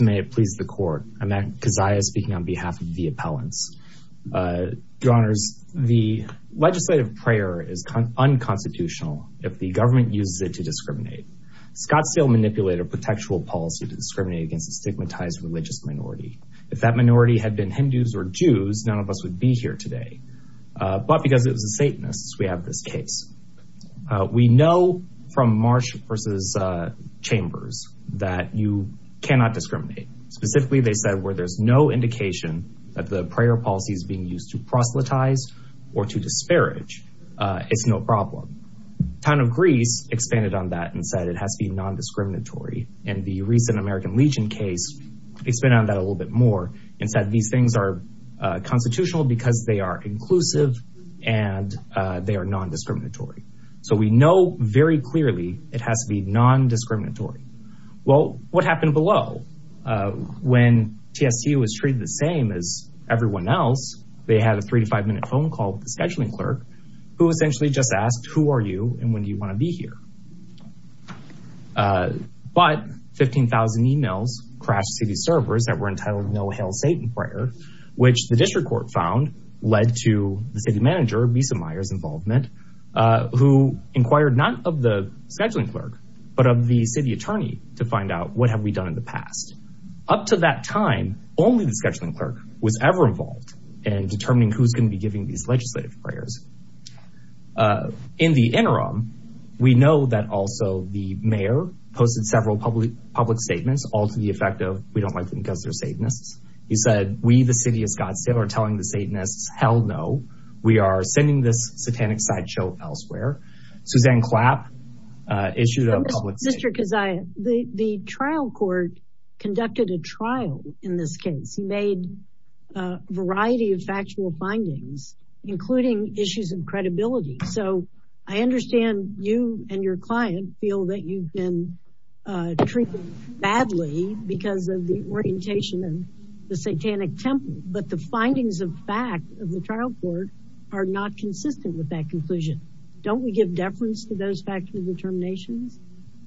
May it please the Court, I'm Matt Keziah speaking on behalf of the appellants. Your Honors, the legislative prayer is unconstitutional if the government uses it to discriminate. Scottsdale manipulated a protectual policy to discriminate against a stigmatized religious minority. If that minority had been Hindus or Jews, none of us would be here today. But because it that you cannot discriminate. Specifically, they said where there's no indication that the prayer policy is being used to proselytize or to disparage, it's no problem. Town of Greece expanded on that and said it has to be non-discriminatory. And the recent American Legion case, it's been on that a little bit more and said these things are constitutional because they are inclusive and they are non-discriminatory. So we know very clearly it has to be non-discriminatory. Well, what happened below? When TSCU was treated the same as everyone else, they had a three to five minute phone call with the scheduling clerk who essentially just asked, who are you and when do you want to be here? But 15,000 emails crashed city servers that were entitled, No Hail Satan Prayer, which the district court found led to the city scheduling clerk, but of the city attorney to find out what have we done in the past. Up to that time, only the scheduling clerk was ever involved in determining who's going to be giving these legislative prayers. In the interim, we know that also the mayor posted several public statements all to the effect of, we don't like them because they're Satanists. He said, we, the city of Scottsdale, are telling the Satanists, hell no. We are sending this issue to the public. Mr. Keziah, the trial court conducted a trial in this case, made a variety of factual findings, including issues of credibility. So I understand you and your client feel that you've been treated badly because of the orientation and the Satanic temple, but the findings of fact of the trial court are not consistent with that conclusion. Don't we give deference to those factual determinations?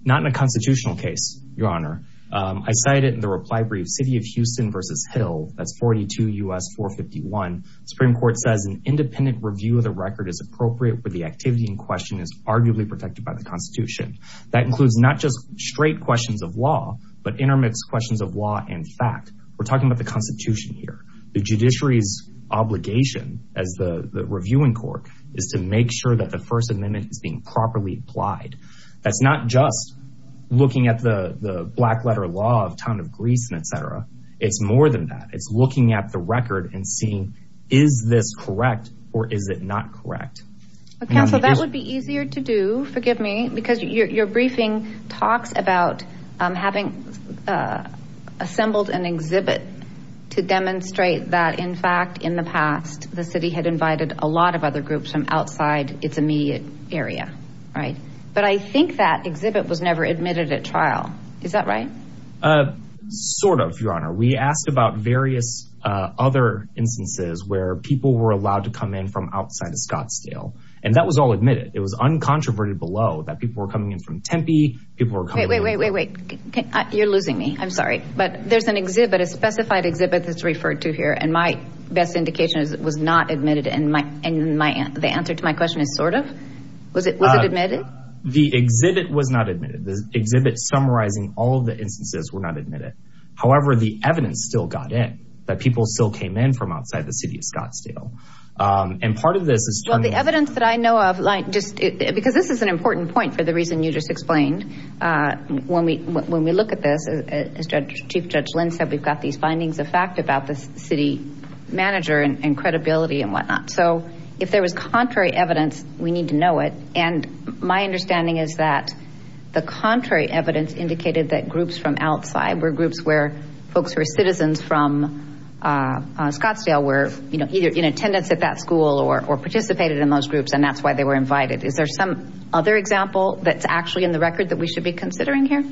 Not in a constitutional case, your honor. I cited in the reply brief, city of Houston versus Hill, that's 42 U.S. 451. Supreme court says an independent review of the record is appropriate where the activity in question is arguably protected by the constitution. That includes not just straight questions of law, but intermix questions of law and fact. We're talking about the constitution here. The judiciary's obligation as the reviewing court is to make sure that the first amendment is properly applied. That's not just looking at the black letter law of town of Greece and et cetera. It's more than that. It's looking at the record and seeing, is this correct or is it not correct? Counsel, that would be easier to do, forgive me, because your briefing talks about having assembled an exhibit to demonstrate that in fact, in the past, the city had invited a lot of other groups from outside its immediate area, right? But I think that exhibit was never admitted at trial. Is that right? Sort of, your honor. We asked about various other instances where people were allowed to come in from outside of Scottsdale and that was all admitted. It was uncontroverted below that people were coming in from Tempe, people were coming- Wait, wait, wait, wait, wait. You're losing me. I'm sorry. But there's an exhibit, a specified exhibit that's the answer to my question is sort of? Was it admitted? The exhibit was not admitted. The exhibit summarizing all of the instances were not admitted. However, the evidence still got in, that people still came in from outside the city of Scottsdale. And part of this is- Well, the evidence that I know of, because this is an important point for the reason you just explained. When we look at this, as Chief Judge Lynn said, we've got these findings of fact about the city manager and credibility and whatnot. So, if there was contrary evidence, we need to know it. And my understanding is that the contrary evidence indicated that groups from outside were groups where folks who are citizens from Scottsdale were either in attendance at that school or participated in those groups and that's why they were invited. Is there some other example that's actually in the record that we should be considering here?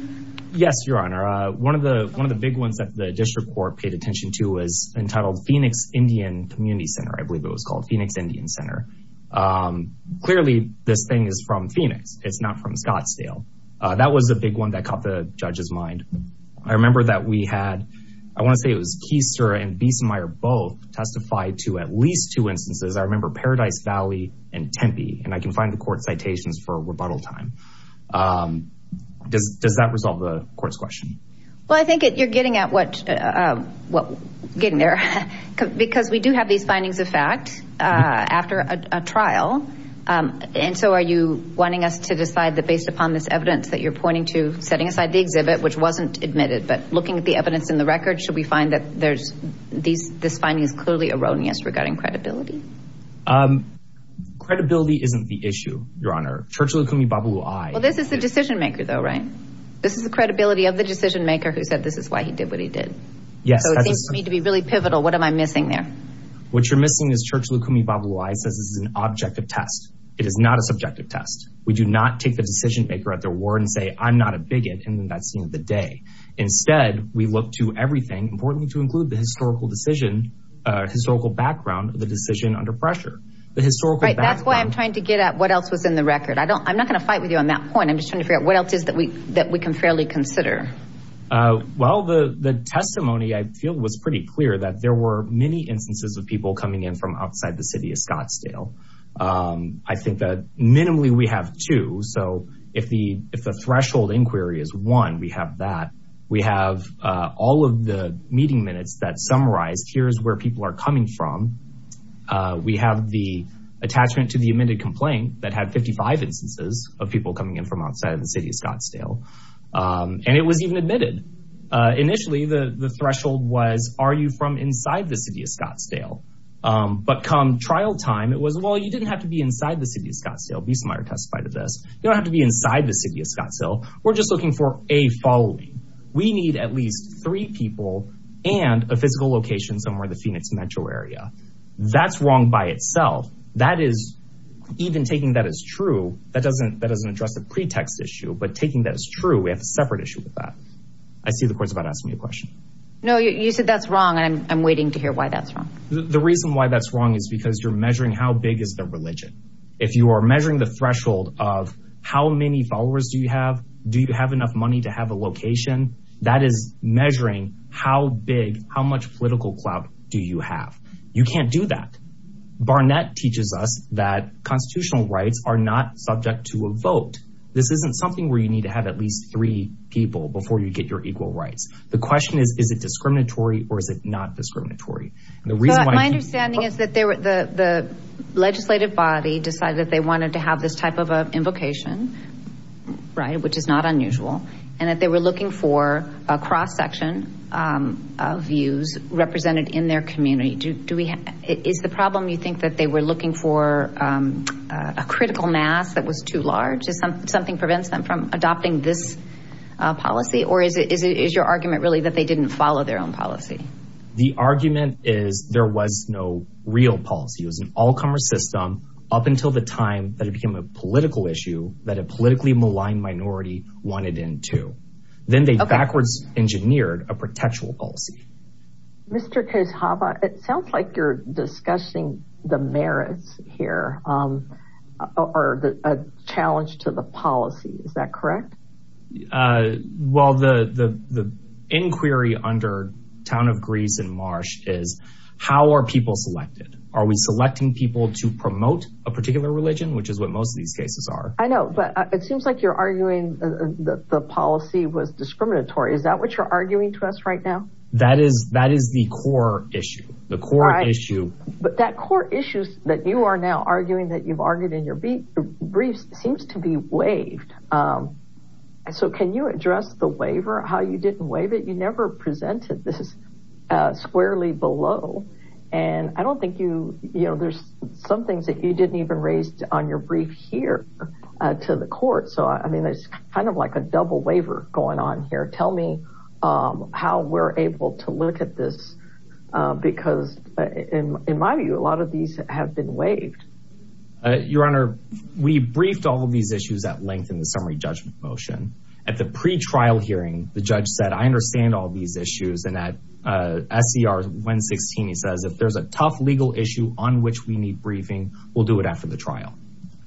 Yes, your honor. One of the big ones that the district court paid attention to was entitled Phoenix Indian Community Center. I believe it was Phoenix Indian Center. Clearly, this thing is from Phoenix. It's not from Scottsdale. That was a big one that caught the judge's mind. I remember that we had, I want to say it was Keister and Biesenmeier both testified to at least two instances. I remember Paradise Valley and Tempe. And I can find the court citations for rebuttal time. Does that resolve the court's question? Well, I think you're getting at what, getting there. Because we do have these findings of fact after a trial. And so are you wanting us to decide that based upon this evidence that you're pointing to, setting aside the exhibit, which wasn't admitted, but looking at the evidence in the record, should we find that there's these, this finding is clearly erroneous regarding credibility? Credibility isn't the issue, your honor. Churchill Okumibabu Ai. Well, this is the decision maker though, right? This is the credibility of the decision maker who said this is why he did what he did. Yes. So it What you're missing is Churchill Okumibabu Ai says this is an objective test. It is not a subjective test. We do not take the decision maker at their word and say, I'm not a bigot. And then that's the end of the day. Instead, we look to everything, importantly to include the historical decision, historical background of the decision under pressure. The historical background. Right, that's why I'm trying to get at what else was in the record. I don't, I'm not going to fight with you on that point. I'm just trying to figure out what else is that we, that we can fairly consider. Well, the testimony I feel was pretty clear that there were many instances of people coming in from outside the city of Scottsdale. I think that minimally we have two. So if the, if the threshold inquiry is one, we have that, we have all of the meeting minutes that summarize, here's where people are coming from. We have the attachment to the amended complaint that had 55 instances of people coming in from outside of the city of Scottsdale. And it was even admitted. Initially, the threshold was, are you from inside the city of Scottsdale? But come trial time, it was, well, you didn't have to be inside the city of Scottsdale. Beesemeyer testified of this. You don't have to be inside the city of Scottsdale. We're just looking for a following. We need at least three people and a physical location somewhere in the Phoenix metro area. That's wrong by itself. That is, even taking that as true, that doesn't, that doesn't address the pretext issue, but taking that as true, we have a separate issue with that. I see the court's about to ask me a question. No, you said that's wrong. And I'm waiting to hear why that's wrong. The reason why that's wrong is because you're measuring how big is the religion. If you are measuring the threshold of how many followers do you have? Do you have enough money to have a location? That is measuring how big, how much political clout do you have? You can't do that. Barnett teaches us that constitutional rights are not subject to a vote. This isn't something where you need to have at least three people before you get your equal rights. The question is, is it discriminatory or is it not discriminatory? And the reason why- My understanding is that the legislative body decided that they wanted to have this type of an invocation, right? Which is not unusual. And that they were looking for a cross section of views represented in their community. Is the problem, you think, that they were looking for a critical mass that was too large? Something prevents them from adopting this policy? Or is your argument really that they didn't follow their own policy? The argument is there was no real policy. It was an all commerce system up until the time that it became a political issue that a politically maligned minority wanted in too. Then they backwards engineered a protectual policy. Mr. Kozhaba, it sounds like you're discussing the merits here, or a challenge to the policy. Is that correct? Well, the inquiry under Town of Greece and Marsh is, how are people selected? Are we selecting people to promote a particular religion, which is what most of these cases are? I know, but it seems like you're arguing that the policy was discriminatory. Is that what you're arguing to us right now? That is the core issue. But that core issue that you are now arguing that you've argued in your briefs seems to be waived. So can you address the waiver, how you didn't waive it? You never presented this squarely below. And I don't think you, you know, there's some things that you didn't even raise on your brief here to the court. So I mean, there's kind of like a double waiver going on here. Tell me how we're able to look at this. Because in my view, a lot of these have been waived. Your Honor, we briefed all of these issues at length in the summary judgment motion. At the pre-trial hearing, the judge said, I understand all these issues. And at SCR 116, he says, if there's a tough legal issue on which we need briefing, we'll do it after the trial.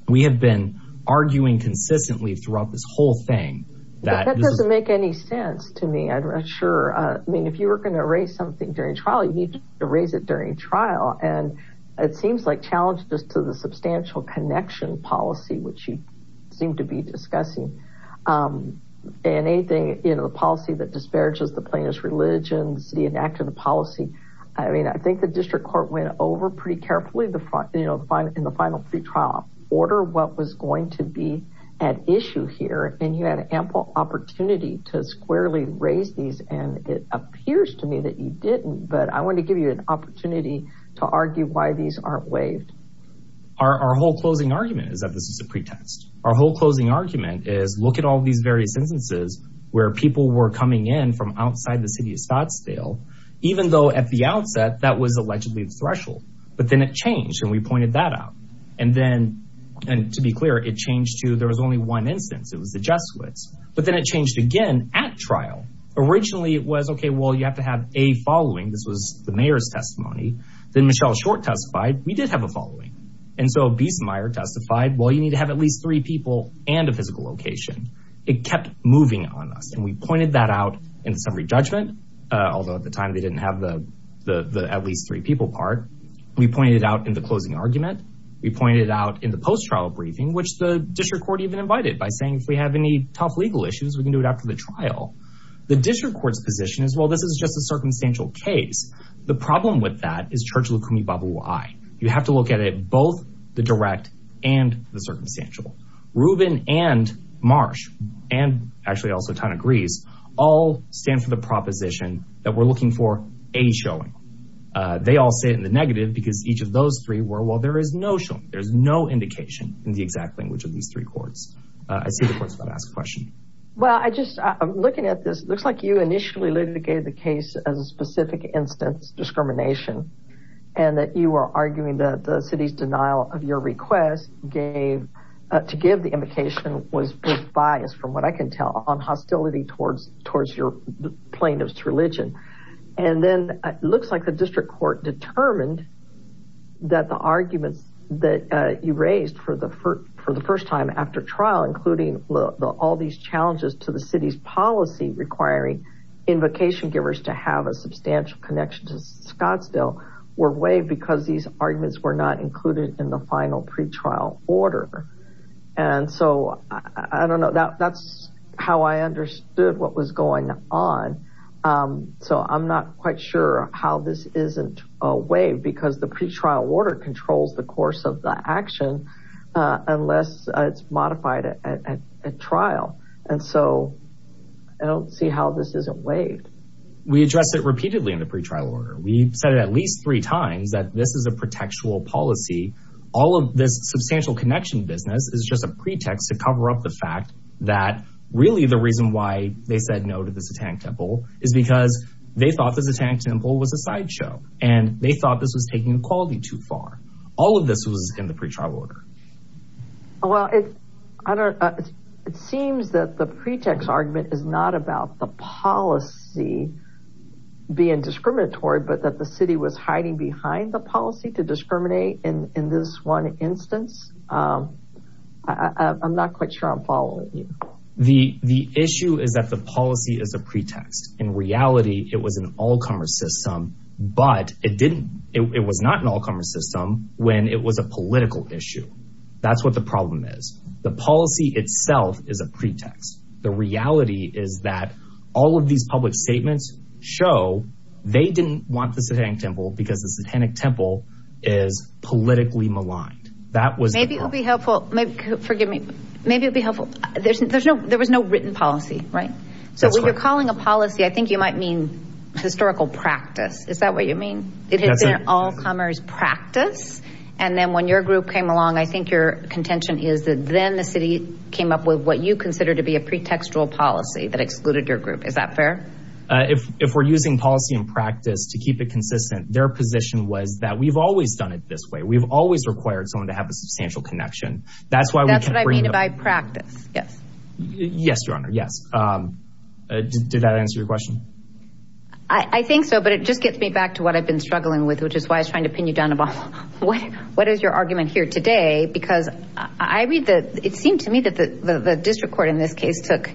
We have been arguing consistently throughout this whole thing. That doesn't make any sense to me. I'm not sure. I mean, if you were going to raise something during trial, you need to raise it during trial. And it seems like you challenged us to the substantial connection policy, which you seem to be discussing. And anything, you know, the policy that disparages the plaintiff's religions, the enact of the policy. I mean, I think the district court went over pretty carefully, you know, in the final pre-trial order, what was going to be at issue here. And you had ample opportunity to squarely raise these. And it appears to me that you didn't. But I want to give you an opportunity to argue why these aren't waived. Our whole closing argument is that this is a pretext. Our whole closing argument is look at all these various instances where people were coming in from outside the city of Scottsdale, even though at the outset, that was allegedly the threshold. But then it changed. And we pointed that out. And then and to be clear, it changed to there was only one instance. It was the Jesuits. But then it changed again at trial. Originally, it was, OK, well, you have to have a following. This was the court testified. We did have a following. And so Beesmeyer testified, well, you need to have at least three people and a physical location. It kept moving on us. And we pointed that out in the summary judgment, although at the time they didn't have the the at least three people part. We pointed it out in the closing argument. We pointed it out in the post-trial briefing, which the district court even invited by saying, if we have any tough legal issues, we can do it after the trial. The district court's position is, well, this is just a circumstantial case. The problem with that is Churchill-Kumi-Babu-Wai. You have to look at it, both the direct and the circumstantial. Rubin and Marsh and actually also Tana Greese all stand for the proposition that we're looking for a showing. They all say it in the negative because each of those three were, well, there is no showing. There's no indication in the exact language of these three courts. I see the court's about to ask a question. Well, I just I'm looking at this. Looks like you initially litigated the case as specific instance discrimination and that you are arguing that the city's denial of your request gave to give the invocation was biased, from what I can tell, on hostility towards your plaintiff's religion. And then it looks like the district court determined that the arguments that you raised for the first time after trial, including all these challenges to the city's policy requiring invocation givers to have a substantial connection to Scottsdale were waived because these arguments were not included in the final pretrial order. And so I don't know that that's how I understood what was going on. So I'm not quite sure how this isn't waived because the pretrial order controls the course of action unless it's modified at trial. And so I don't see how this isn't waived. We addressed it repeatedly in the pretrial order. We said it at least three times that this is a protectual policy. All of this substantial connection business is just a pretext to cover up the fact that really the reason why they said no to the Satanic Temple is because they thought the Satanic Temple was a sideshow and they thought this was in the pretrial order. Well, it seems that the pretext argument is not about the policy being discriminatory, but that the city was hiding behind the policy to discriminate in this one instance. I'm not quite sure I'm following you. The issue is that the policy is a pretext. In reality, it was an all commerce system, but it didn't. It was not an all commerce system when it was a political issue. That's what the problem is. The policy itself is a pretext. The reality is that all of these public statements show they didn't want the Satanic Temple because the Satanic Temple is politically maligned. That was maybe it would be helpful. Forgive me. Maybe it'd be helpful. There's there's no there was no written policy. Right. So when you're calling a policy, I Is that what you mean? It has been an all commerce practice. And then when your group came along, I think your contention is that then the city came up with what you consider to be a pretextual policy that excluded your group. Is that fair? If we're using policy and practice to keep it consistent, their position was that we've always done it this way. We've always required someone to have a substantial connection. That's why we can't bring it up. That's what I mean by practice. Yes. Yes, Your Honor. Yes. Did that answer your question? I think so, but it just gets me back to what I've been struggling with, which is why I was trying to pin you down. What what is your argument here today? Because I read that it seemed to me that the district court in this case took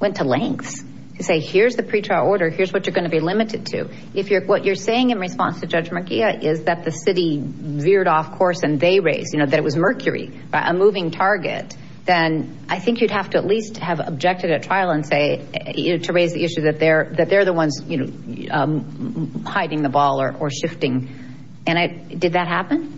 went to lengths to say, here's the pre-trial order. Here's what you're going to be limited to. If you're what you're saying in response to Judge McGee is that the city veered off course and they raised that it was mercury, a moving target, then I think you'd have to at least have objected at trial and say to raise the issue that they're that they're the ones, you know, hiding the ball or shifting. And did that happen?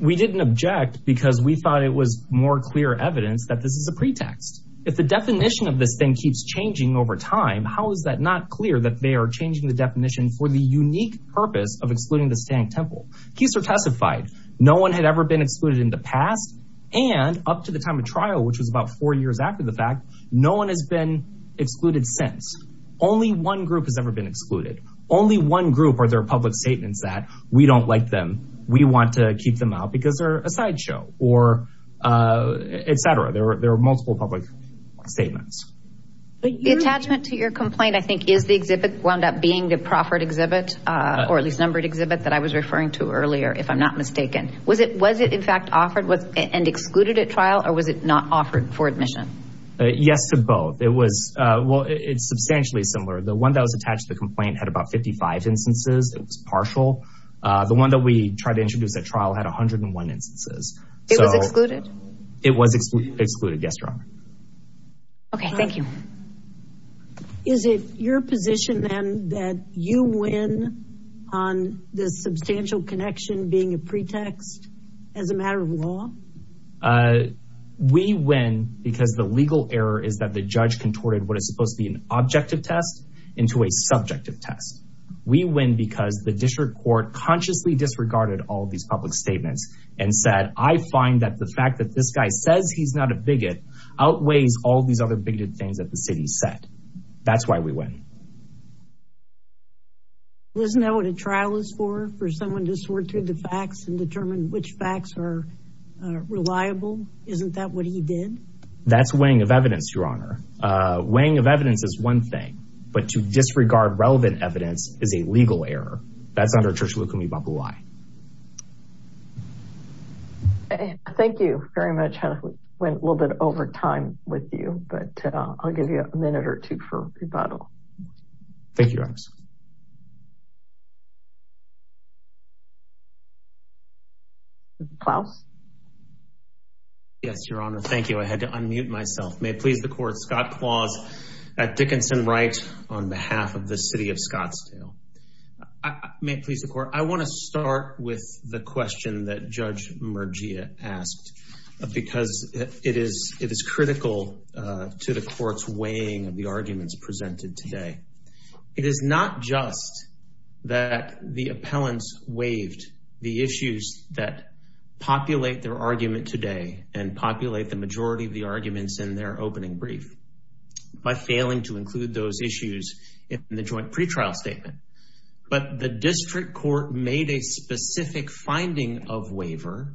We didn't object because we thought it was more clear evidence that this is a pretext. If the definition of this thing keeps changing over time, how is that not clear that they are changing the definition for the unique purpose of excluding the Stank Temple? Keiser testified no one had ever been excluded in the past and up to the time of trial, which was about four years after the fact, no one has been excluded since only one group has ever been excluded. Only one group or their public statements that we don't like them. We want to keep them out because they're a sideshow or et cetera. There are multiple public statements. But the attachment to your complaint, I think, is the exhibit wound up being the proffered exhibit or at least numbered exhibit that I was referring to earlier, if I'm not mistaken. Was it was it, in fact, offered and excluded at trial or was it not offered for admission? Yes, to both. It was well, it's substantially similar. The one that was attached to the complaint had about fifty five instances. It was partial. The one that we tried to introduce at trial had one hundred and one instances. It was excluded. It was excluded. Yes. OK, thank you. Is it your position, then, that you win on the substantial connection being a pretext as a matter of law? We win because the legal error is that the judge contorted what is supposed to be an objective test into a subjective test. We win because the district court consciously disregarded all these public statements and said, I find that the fact that this guy says he's not a bigot outweighs all these other bigoted things that the city said. That's why we win. Isn't that what a trial is for, for someone to sort through the facts and determine which facts are reliable? Isn't that what he did? That's weighing of evidence, Your Honor. Weighing of evidence is one thing, but to disregard relevant evidence is a legal error. That's under Church of Lukumi Bapu'u'i. Thank you very much. I went a little bit over time with you, but I'll give you a minute or two for rebuttal. Thank you, Your Honors. Mr. Klaus? Yes, Your Honor. Thank you. I had to unmute myself. May it please the court, Scott Klaus at Dickinson Wright on behalf of the city of Scottsdale. May it please the court, I want to start with the question that Judge Murgia asked because it is critical to the court's weighing of the arguments presented today. It is not just that the appellants waived the issues that populate their argument today and populate the majority of the arguments in their opening brief by failing to include those issues in the joint pretrial statement. But the district court made a specific finding of waiver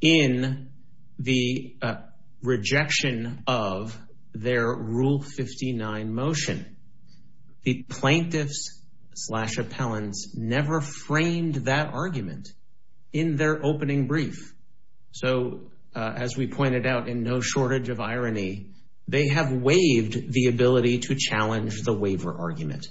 in the rejection of their Rule 59 motion. The plaintiffs slash appellants never framed that argument in their opening brief. So as we pointed out, in no shortage of irony, they have waived the ability to challenge the waiver argument.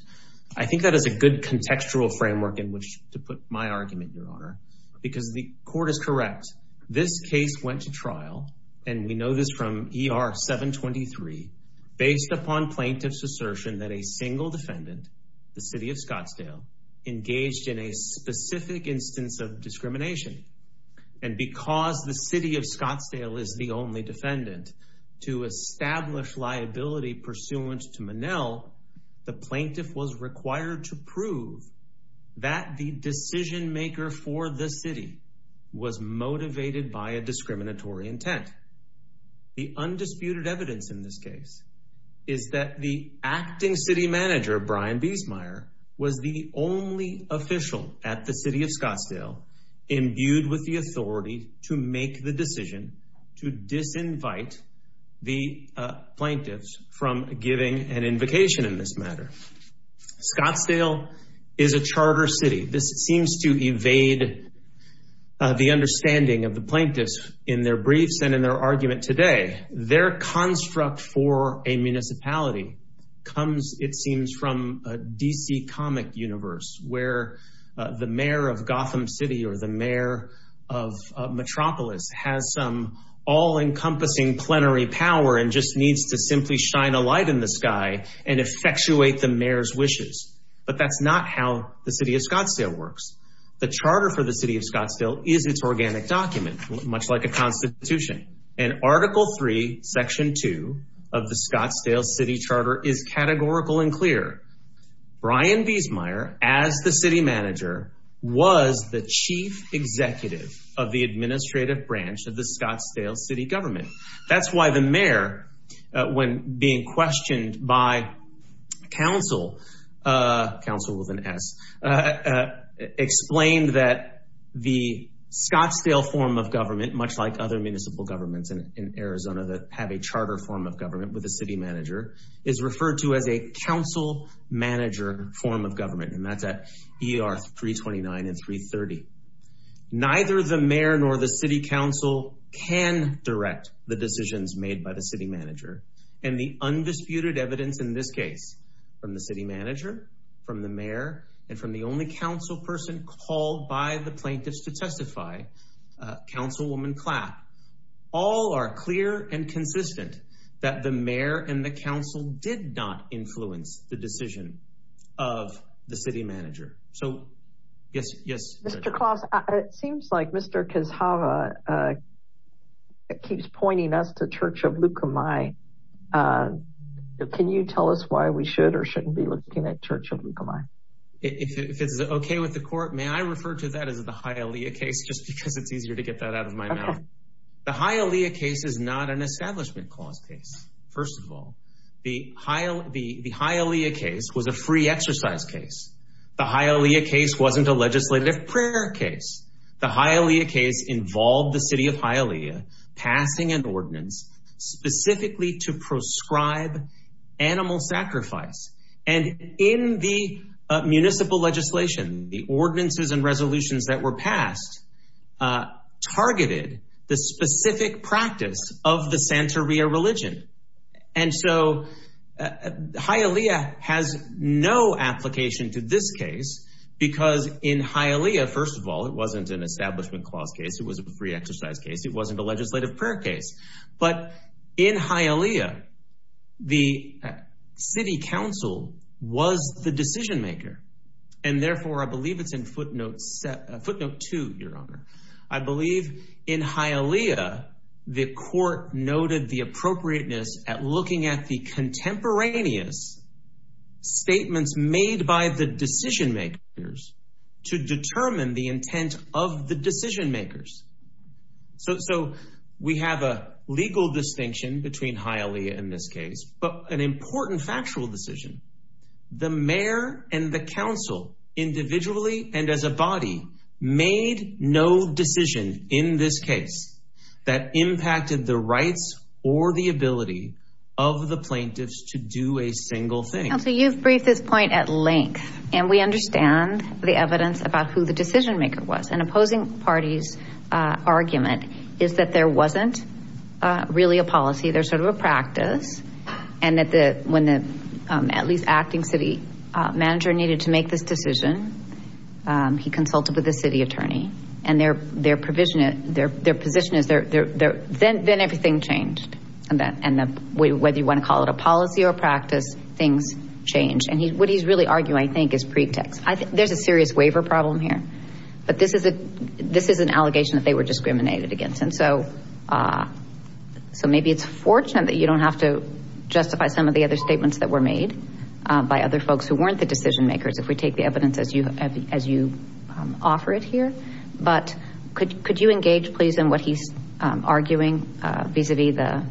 I think that is a good contextual framework in which to put my argument, Your Honor, because the court is correct. This case went to trial, and we know this from ER 723, based upon plaintiff's assertion that a single defendant, the city of Scottsdale, engaged in a specific instance of discrimination. And because the city of Scottsdale is the only defendant to establish liability pursuant to the law, the plaintiff was required to prove that the decision maker for the city was motivated by a discriminatory intent. The undisputed evidence in this case is that the acting city manager, Brian Biesmeier, was the only official at the city of Scottsdale imbued with the authority to make the decision to disinvite the plaintiffs from giving an invocation in this matter. Scottsdale is a charter city. This seems to evade the understanding of the plaintiffs in their briefs and in their argument today. Their construct for a municipality comes, it seems, from a DC comic universe where the mayor of Gotham City or the mayor of Metropolis has some all-encompassing plenary power and just needs to simply shine a light in the sky and effectuate the mayor's wishes. But that's not how the city of Scottsdale works. The charter for the city of Scottsdale is its organic document, much like a constitution. And Article 3, Section 2 of the Scottsdale City Charter is categorical and clear. Brian Biesmeier, as the city manager, was the chief executive of the administrative branch of the Scottsdale city government. That's why the mayor, when being questioned by counsel, counsel with an S, explained that the Scottsdale form of government, much like other municipal governments in Arizona that have a charter form of government with a city manager, is referred to as a council manager form of government. And that's at ER 329 and 330. Neither the mayor nor the city council can direct the decisions made by the city manager. And the undisputed evidence in this case from the city manager, from the mayor, and from the only council person called by the plaintiffs to testify, Councilwoman Clapp, all are clear and consistent that the mayor and the council did not influence the decision of the city manager. So, yes, yes. Mr. Klaus, it seems like Mr. Kizhava keeps pointing us to Church of Lukumai. Can you tell us why we should or shouldn't be looking at Church of Lukumai? If it's OK with the court, may I refer to that as the Hialeah case, just because it's easier to get that out of my mouth? The Hialeah case is not an establishment clause case. First of all, the Hialeah case was a free exercise case. The Hialeah case wasn't a legislative prayer case. The Hialeah case involved the city of Hialeah passing an ordinance specifically to prescribe animal sacrifice. And in the municipal legislation, the ordinances and resolutions that were passed targeted the specific practice of the Santeria religion. And so Hialeah has no application to this case because in Hialeah, first of all, it wasn't an establishment clause case. It was a free exercise case. It wasn't a legislative prayer case. But in Hialeah, the city council was the decision maker. And therefore, I believe it's in footnote two, Your Honor. I believe in Hialeah, the court noted the appropriateness at looking at the contemporaneous statements made by the decision makers to determine the intent of the decision makers. So we have a legal distinction between Hialeah and this case, but an important factual decision. The mayor and the council individually and as a body made no decision in this case that impacted the rights or the ability of the plaintiffs to do a single thing. Counsel, you've briefed this point at length, and we understand the evidence about who the decision maker was. An opposing party's argument is that there wasn't really a policy. There's sort of a practice. And that when the at least acting city manager needed to make this decision, he consulted with the city attorney and their position is, then everything changed. And whether you want to call it a policy or practice, things changed. And what he's really arguing, I think, is pretext. I think there's a serious waiver problem here, but this is an allegation that they were discriminated against. And so maybe it's fortunate that you don't have to justify some of the other statements that were made by other folks who weren't the decision makers, if we take the evidence as you offer it here. But could you engage please in what he's arguing vis-a-vis the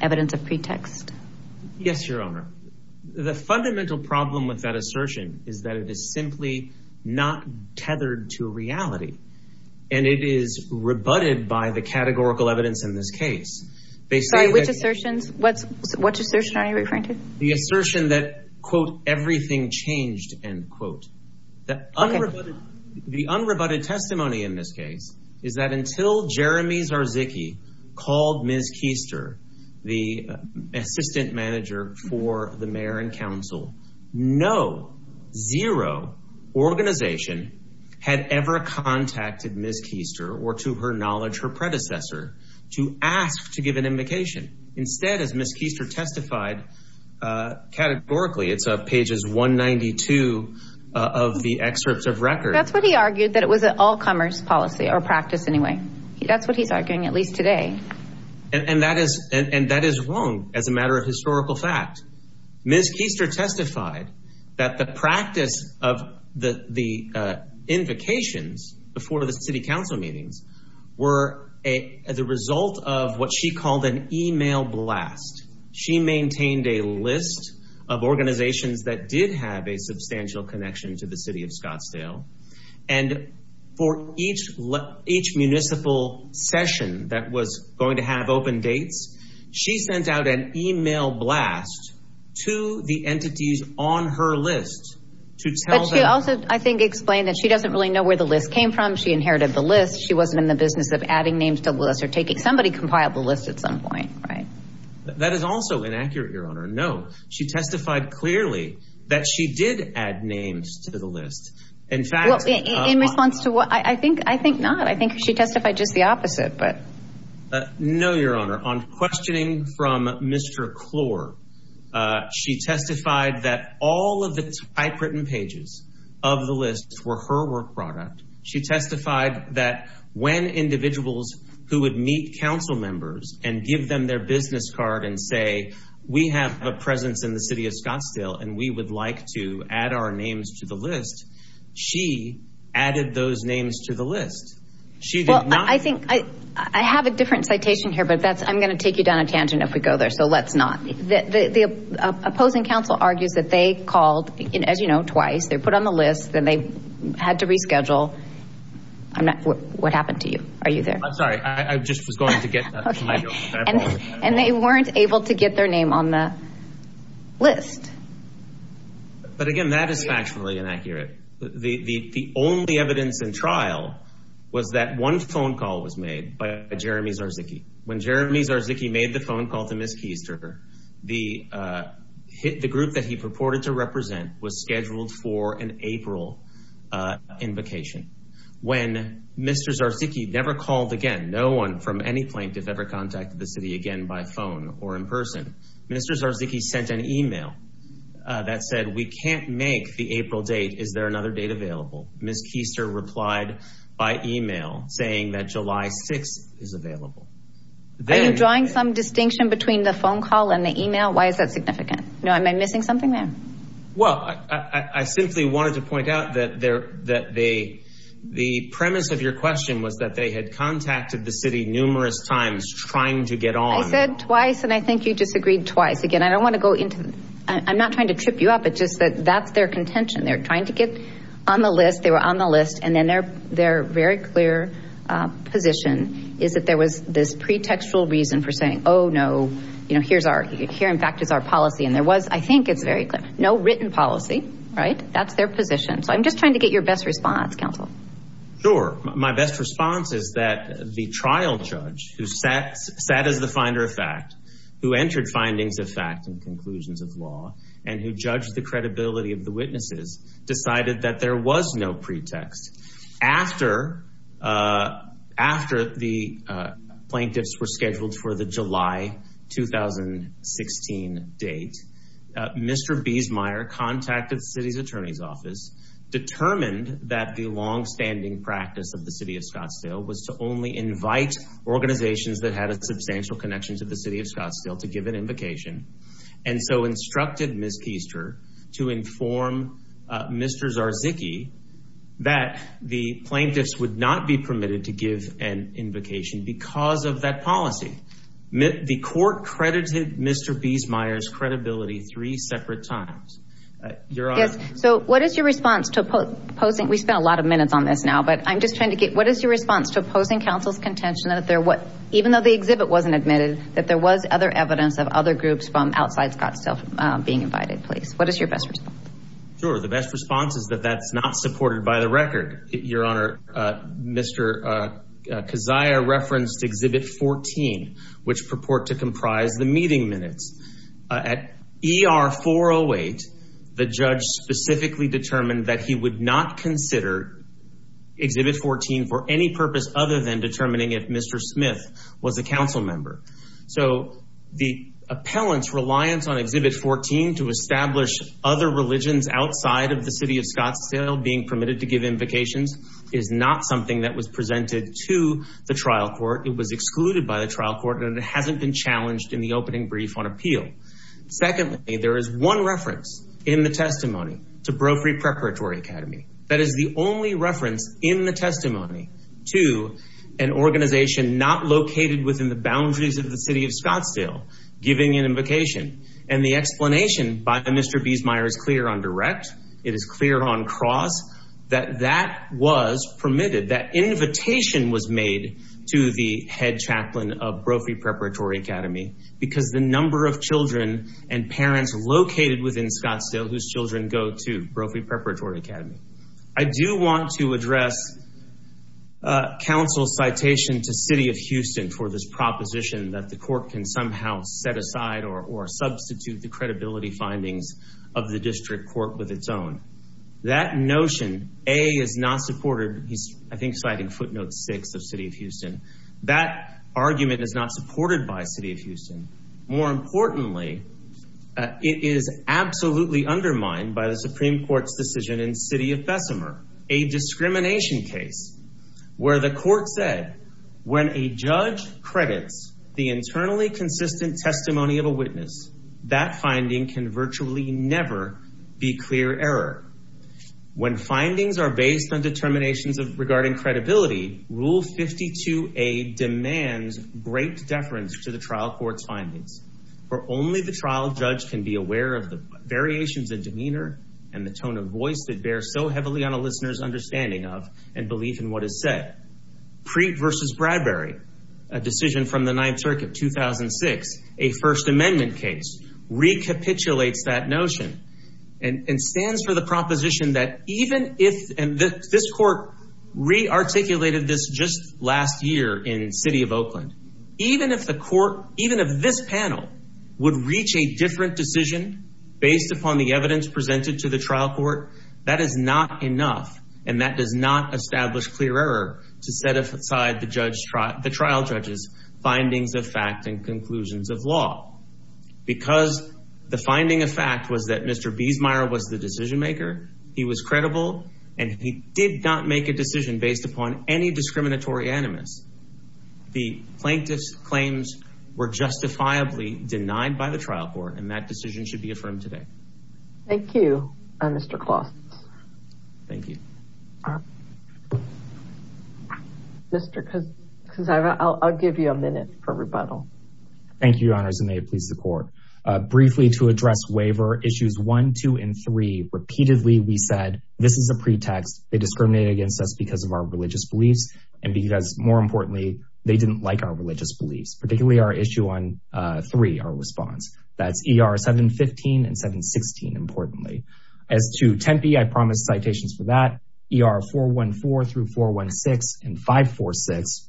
evidence of pretext? Yes, Your Honor. The fundamental problem with that assertion is that it is simply not tethered to reality. And it is rebutted by the categorical evidence in this case. Sorry, which assertions? What assertion are you referring to? The assertion that, quote, everything changed, end quote. The unrebutted testimony in this case is that until Jeremy Zarzicchi called Ms. Keister, the assistant manager for the mayor and council, no, zero organization had ever contacted Ms. Keister or to her knowledge, her predecessor, to ask to give an invocation. Instead, as Ms. Keister testified, categorically, it's pages 192 of the excerpts of record. That's what he argued, that it was an all commerce policy or practice anyway. That's what he's arguing, at least today. And that is wrong as a matter of historical fact. Ms. Keister testified that the practice of the invocations before the city council meetings were as a result of what she called an email blast. She maintained a list of organizations that did have a substantial connection to the city of Scottsdale. And for each municipal session that was going to have open dates, she sent out an email to the entities on her list to tell them- But she also, I think, explained that she doesn't really know where the list came from, she inherited the list. She wasn't in the business of adding names to the list or taking, somebody compiled the list at some point, right? That is also inaccurate, Your Honor. No, she testified clearly that she did add names to the list. In fact- Well, in response to what, I think, I think not. I think she testified just the opposite, but- No, Your Honor. On questioning from Mr. Clore, she testified that all of the typewritten pages of the list were her work product. She testified that when individuals who would meet council members and give them their business card and say, we have a presence in the city of Scottsdale and we would like to add our names to the list, she added those names to the list. She did not- I have a different citation here, but that's, I'm going to take you down a tangent if we go there. So let's not, the opposing council argues that they called, as you know, twice, they put on the list, then they had to reschedule. I'm not, what happened to you? Are you there? I'm sorry. I just was going to get- And they weren't able to get their name on the list. But again, that is factually inaccurate. The only evidence in trial was that one phone call was made by Jeremy Zarzycki. When Jeremy Zarzycki made the phone call to Ms. Keister, the group that he purported to represent was scheduled for an April invocation. When Mr. Zarzycki never called again, no one from any plaintiff ever contacted the city again by phone or in person, Mr. Zarzycki sent an email that said, we can't make the April date. Is there another date available? Ms. Keister replied by email saying that July 6th is available. Are you drawing some distinction between the phone call and the email? Why is that significant? No, am I missing something there? Well, I simply wanted to point out that the premise of your question was that they had contacted the city numerous times trying to get on. I said twice, and I think you disagreed twice. Again, I don't want to go into, I'm not trying to trip you up. It's just that that's their contention. They're trying to get on the list. They were on the list. And then their very clear position is that there was this pretextual reason for saying, oh no, here in fact is our policy. And there was, I think it's very clear, no written policy, right? That's their position. So I'm just trying to get your best response, counsel. Sure. My best response is that the trial judge who sat as the finder of fact, who entered findings of fact and conclusions of law, and who judged the credibility of the witnesses, decided that there was no pretext. After the plaintiffs were scheduled for the July 2016 date, Mr. Biesmeier contacted the city's attorney's office, determined that the longstanding practice of the city of Scottsdale was to only invite organizations that had a substantial connection to the city of Scottsdale to give an invocation. And so instructed Ms. Keister to inform Mr. Zarzycki that the plaintiffs would not be permitted to give an invocation because of that policy. The court credited Mr. Biesmeier's credibility three separate times. So what is your response to opposing, we spent a lot of minutes on this now, but I'm just trying to get, what is your response to opposing counsel's contention that there was, even though the exhibit wasn't admitted, that there was other evidence of other groups from outside Scottsdale being invited, please. What is your best response? Sure. The best response is that that's not supported by the record. Your Honor, Mr. Keisyer referenced exhibit 14, which purport to comprise the meeting minutes. At ER 408, the judge specifically determined that he would not consider exhibit 14 for any purpose other than determining if Mr. Smith was a council member. So the appellant's reliance on exhibit 14 to establish other religions outside of the city of Scottsdale being permitted to give invocations is not something that was presented to the trial court. It was excluded by the trial court and it hasn't been challenged in the opening brief on appeal. Secondly, there is one reference in the testimony to Brophy Preparatory Academy. That is the only reference in the testimony to an organization not located within the boundaries of the city of Scottsdale giving an invocation. And the explanation by Mr. Biesmeier is clear on direct. It is clear on cross that that was permitted. That invitation was made to the head chaplain of Brophy Preparatory Academy because the number of children and parents located within Scottsdale, whose children go to Brophy Preparatory Academy. I do want to address counsel's citation to city of Houston for this proposition that the court can somehow set aside or substitute the credibility findings of the district court with its own. That notion, A, is not supported. He's, I think, citing footnote six of city of Houston. That argument is not supported by city of Houston. More importantly, it is absolutely undermined by the Supreme Court's decision in city of Bessemer, a discrimination case where the court said when a judge credits the internally consistent testimony of a witness, that finding can virtually never be clear error. When findings are based on determinations regarding credibility, rule 52A demands great deference to the trial court's findings. For only the trial judge can be aware of the variations in demeanor and the tone of voice that bears so heavily on a listener's understanding of and belief in what is said, Preet versus Bradbury, a decision from the ninth circuit, 2006, a first amendment case, recapitulates that notion and stands for the proposition that even if, and this court re articulated this just last year in city of Oakland, even if the court, even if this panel would reach a different decision based upon the evidence presented to the trial court, that is not enough and that does not establish clear error to set aside the trial judge's findings of fact and conclusions of law because the finding of fact was that Mr. Biesmeier was the decision maker. He was credible and he did not make a decision based upon any discriminatory animus. The plaintiff's claims were justifiably denied by the trial court. And that decision should be affirmed today. Thank you, Mr. Klaus. Thank you. Mr. Kuzma, I'll give you a minute for rebuttal. Thank you, your honors. And may it please the court, briefly to address waiver issues one, two, and three, repeatedly, we said, this is a pretext they discriminate against us because of our religious beliefs. And because more importantly, they didn't like our religious beliefs, particularly our issue on three, our response. That's ER 715 and 716, importantly. As to Tempe, I promised citations for that, ER 414 through 416 and 546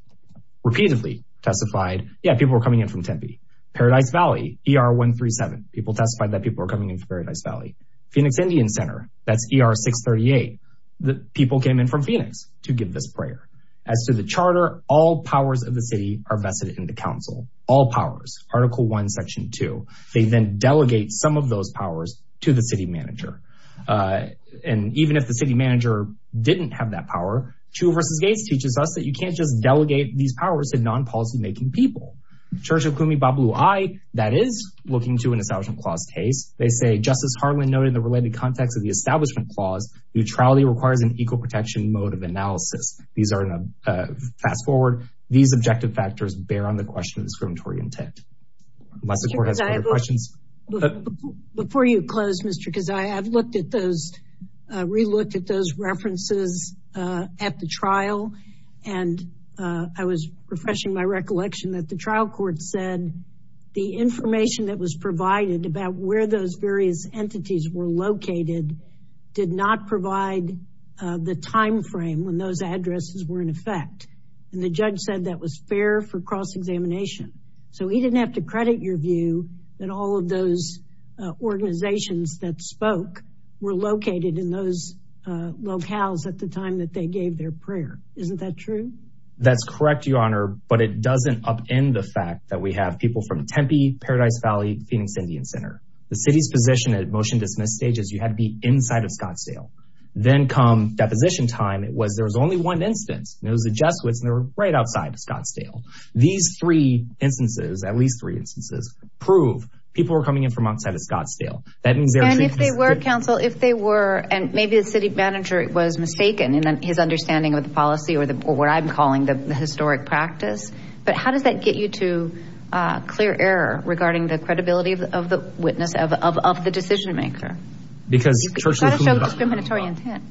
repeatedly testified, yeah, people were coming in from Tempe. Paradise Valley, ER 137, people testified that people were coming in from Paradise Valley. Phoenix Indian Center, that's ER 638. The people came in from Phoenix to give this prayer. As to the charter, all powers of the city are vested in the council. All powers, article one, section two. They then delegate some of those powers to the city manager. And even if the city manager didn't have that power, Chiu versus Gates teaches us that you can't just delegate these powers to non-policy making people. Church of Kumi Bablui, that is looking to an establishment clause case. They say, Justice Harlan noted the related context of the establishment clause, neutrality requires an equal protection mode of analysis. These are in a fast forward. These objective factors bear on the question of discriminatory intent. Unless the court has further questions. Before you close, Mr. Keziah, I've looked at those, re-looked at those references at the trial. And I was refreshing my recollection that the trial court said the information that was provided about where those various entities were located did not provide the timeframe when those addresses were in effect, and the judge said that was fair for cross-examination. So he didn't have to credit your view that all of those organizations that spoke were located in those locales at the time that they gave their prayer. Isn't that true? That's correct, Your Honor, but it doesn't upend the fact that we have people from Tempe, Paradise Valley, Phoenix Indian Center, the city's position at motion dismiss stages, you had to be inside of Scottsdale. Then come deposition time, it was, there was only one instance, and it was the Jesuits and they were right outside of Scottsdale. These three instances, at least three instances, prove people were coming in from outside of Scottsdale. That means they're- And if they were, counsel, if they were, and maybe the city manager was mistaken in his understanding of the policy or what I'm calling the historic practice, but how does that get you to clear error regarding the credibility of the witness, of the decision maker? Because- You've got to show discriminatory intent.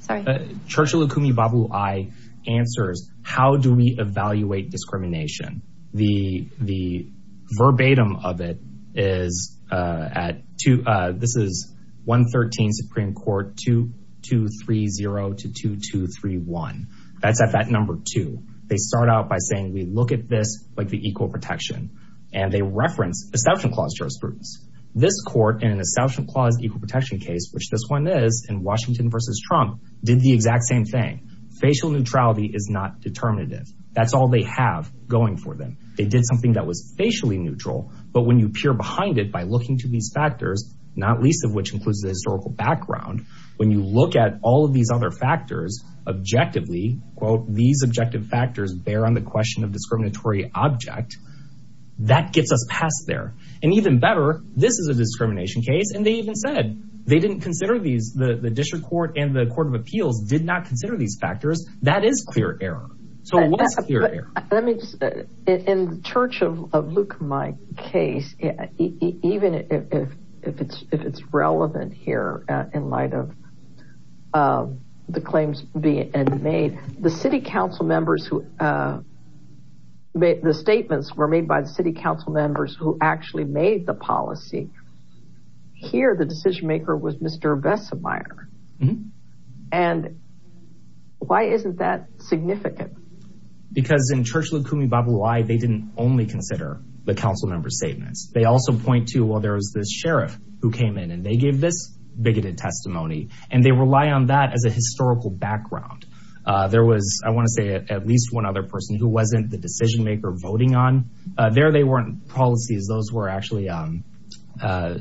Sorry. Churchill Akumi Babu-Aye answers, how do we evaluate discrimination? The verbatim of it is at two, this is 113 Supreme Court 2230 to 2231. That's at that number two. They start out by saying, we look at this, like the equal protection, and they reference Establishment Clause jurisprudence. This court in an Establishment Clause equal protection case, which this one is in Washington versus Trump, did the exact same thing. Facial neutrality is not determinative. That's all they have going for them. They did something that was facially neutral, but when you peer behind it by looking to these factors, not least of which includes the historical background, when you look at all of these other factors objectively, quote, these objective factors bear on the question of discriminatory object, that gets us past there, and even better, this is a discrimination case, and they even said they didn't consider these, the District Court and the Court of Appeals did not consider these factors. That is clear error. So it was clear error. Let me just, in the church of Luke, my case, even if it's relevant here in light of the claims being made, the city council members who made the statements were made by the city council members who actually made the policy. Here, the decision maker was Mr. Vessemeyer, and why isn't that significant? Because in Church of Likumi Babu Wai, they didn't only consider the council members' statements. They also point to, well, there was this sheriff who came in and they gave this bigoted testimony, and they rely on that as a historical background. There was, I want to say at least one other person who wasn't the decision maker voting on. There, they weren't policies. Those were actually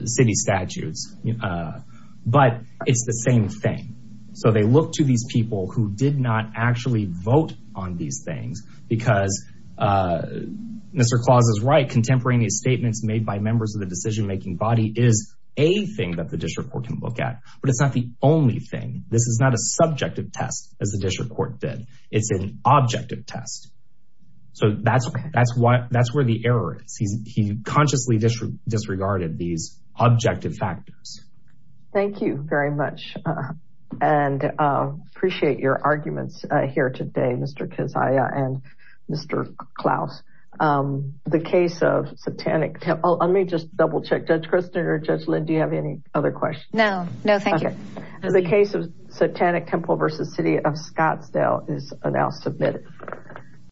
city statutes, but it's the same thing. So they look to these people who did not actually vote on these things because Mr. Claus is right, contemporaneous statements made by members of the decision-making body is a thing that the District Court can look at, but it's not the only thing. This is not a subjective test as the District Court did. It's an objective test. So that's where the error is. He consciously disregarded these objective factors. Thank you very much, and appreciate your arguments here today, Mr. Keziah and Mr. Claus. The case of Satanic Temple, let me just double check, Judge Kristin or Judge Lynn, do you have any other questions? No, no, thank you. The case of Satanic Temple versus City of Scottsdale is now submitted.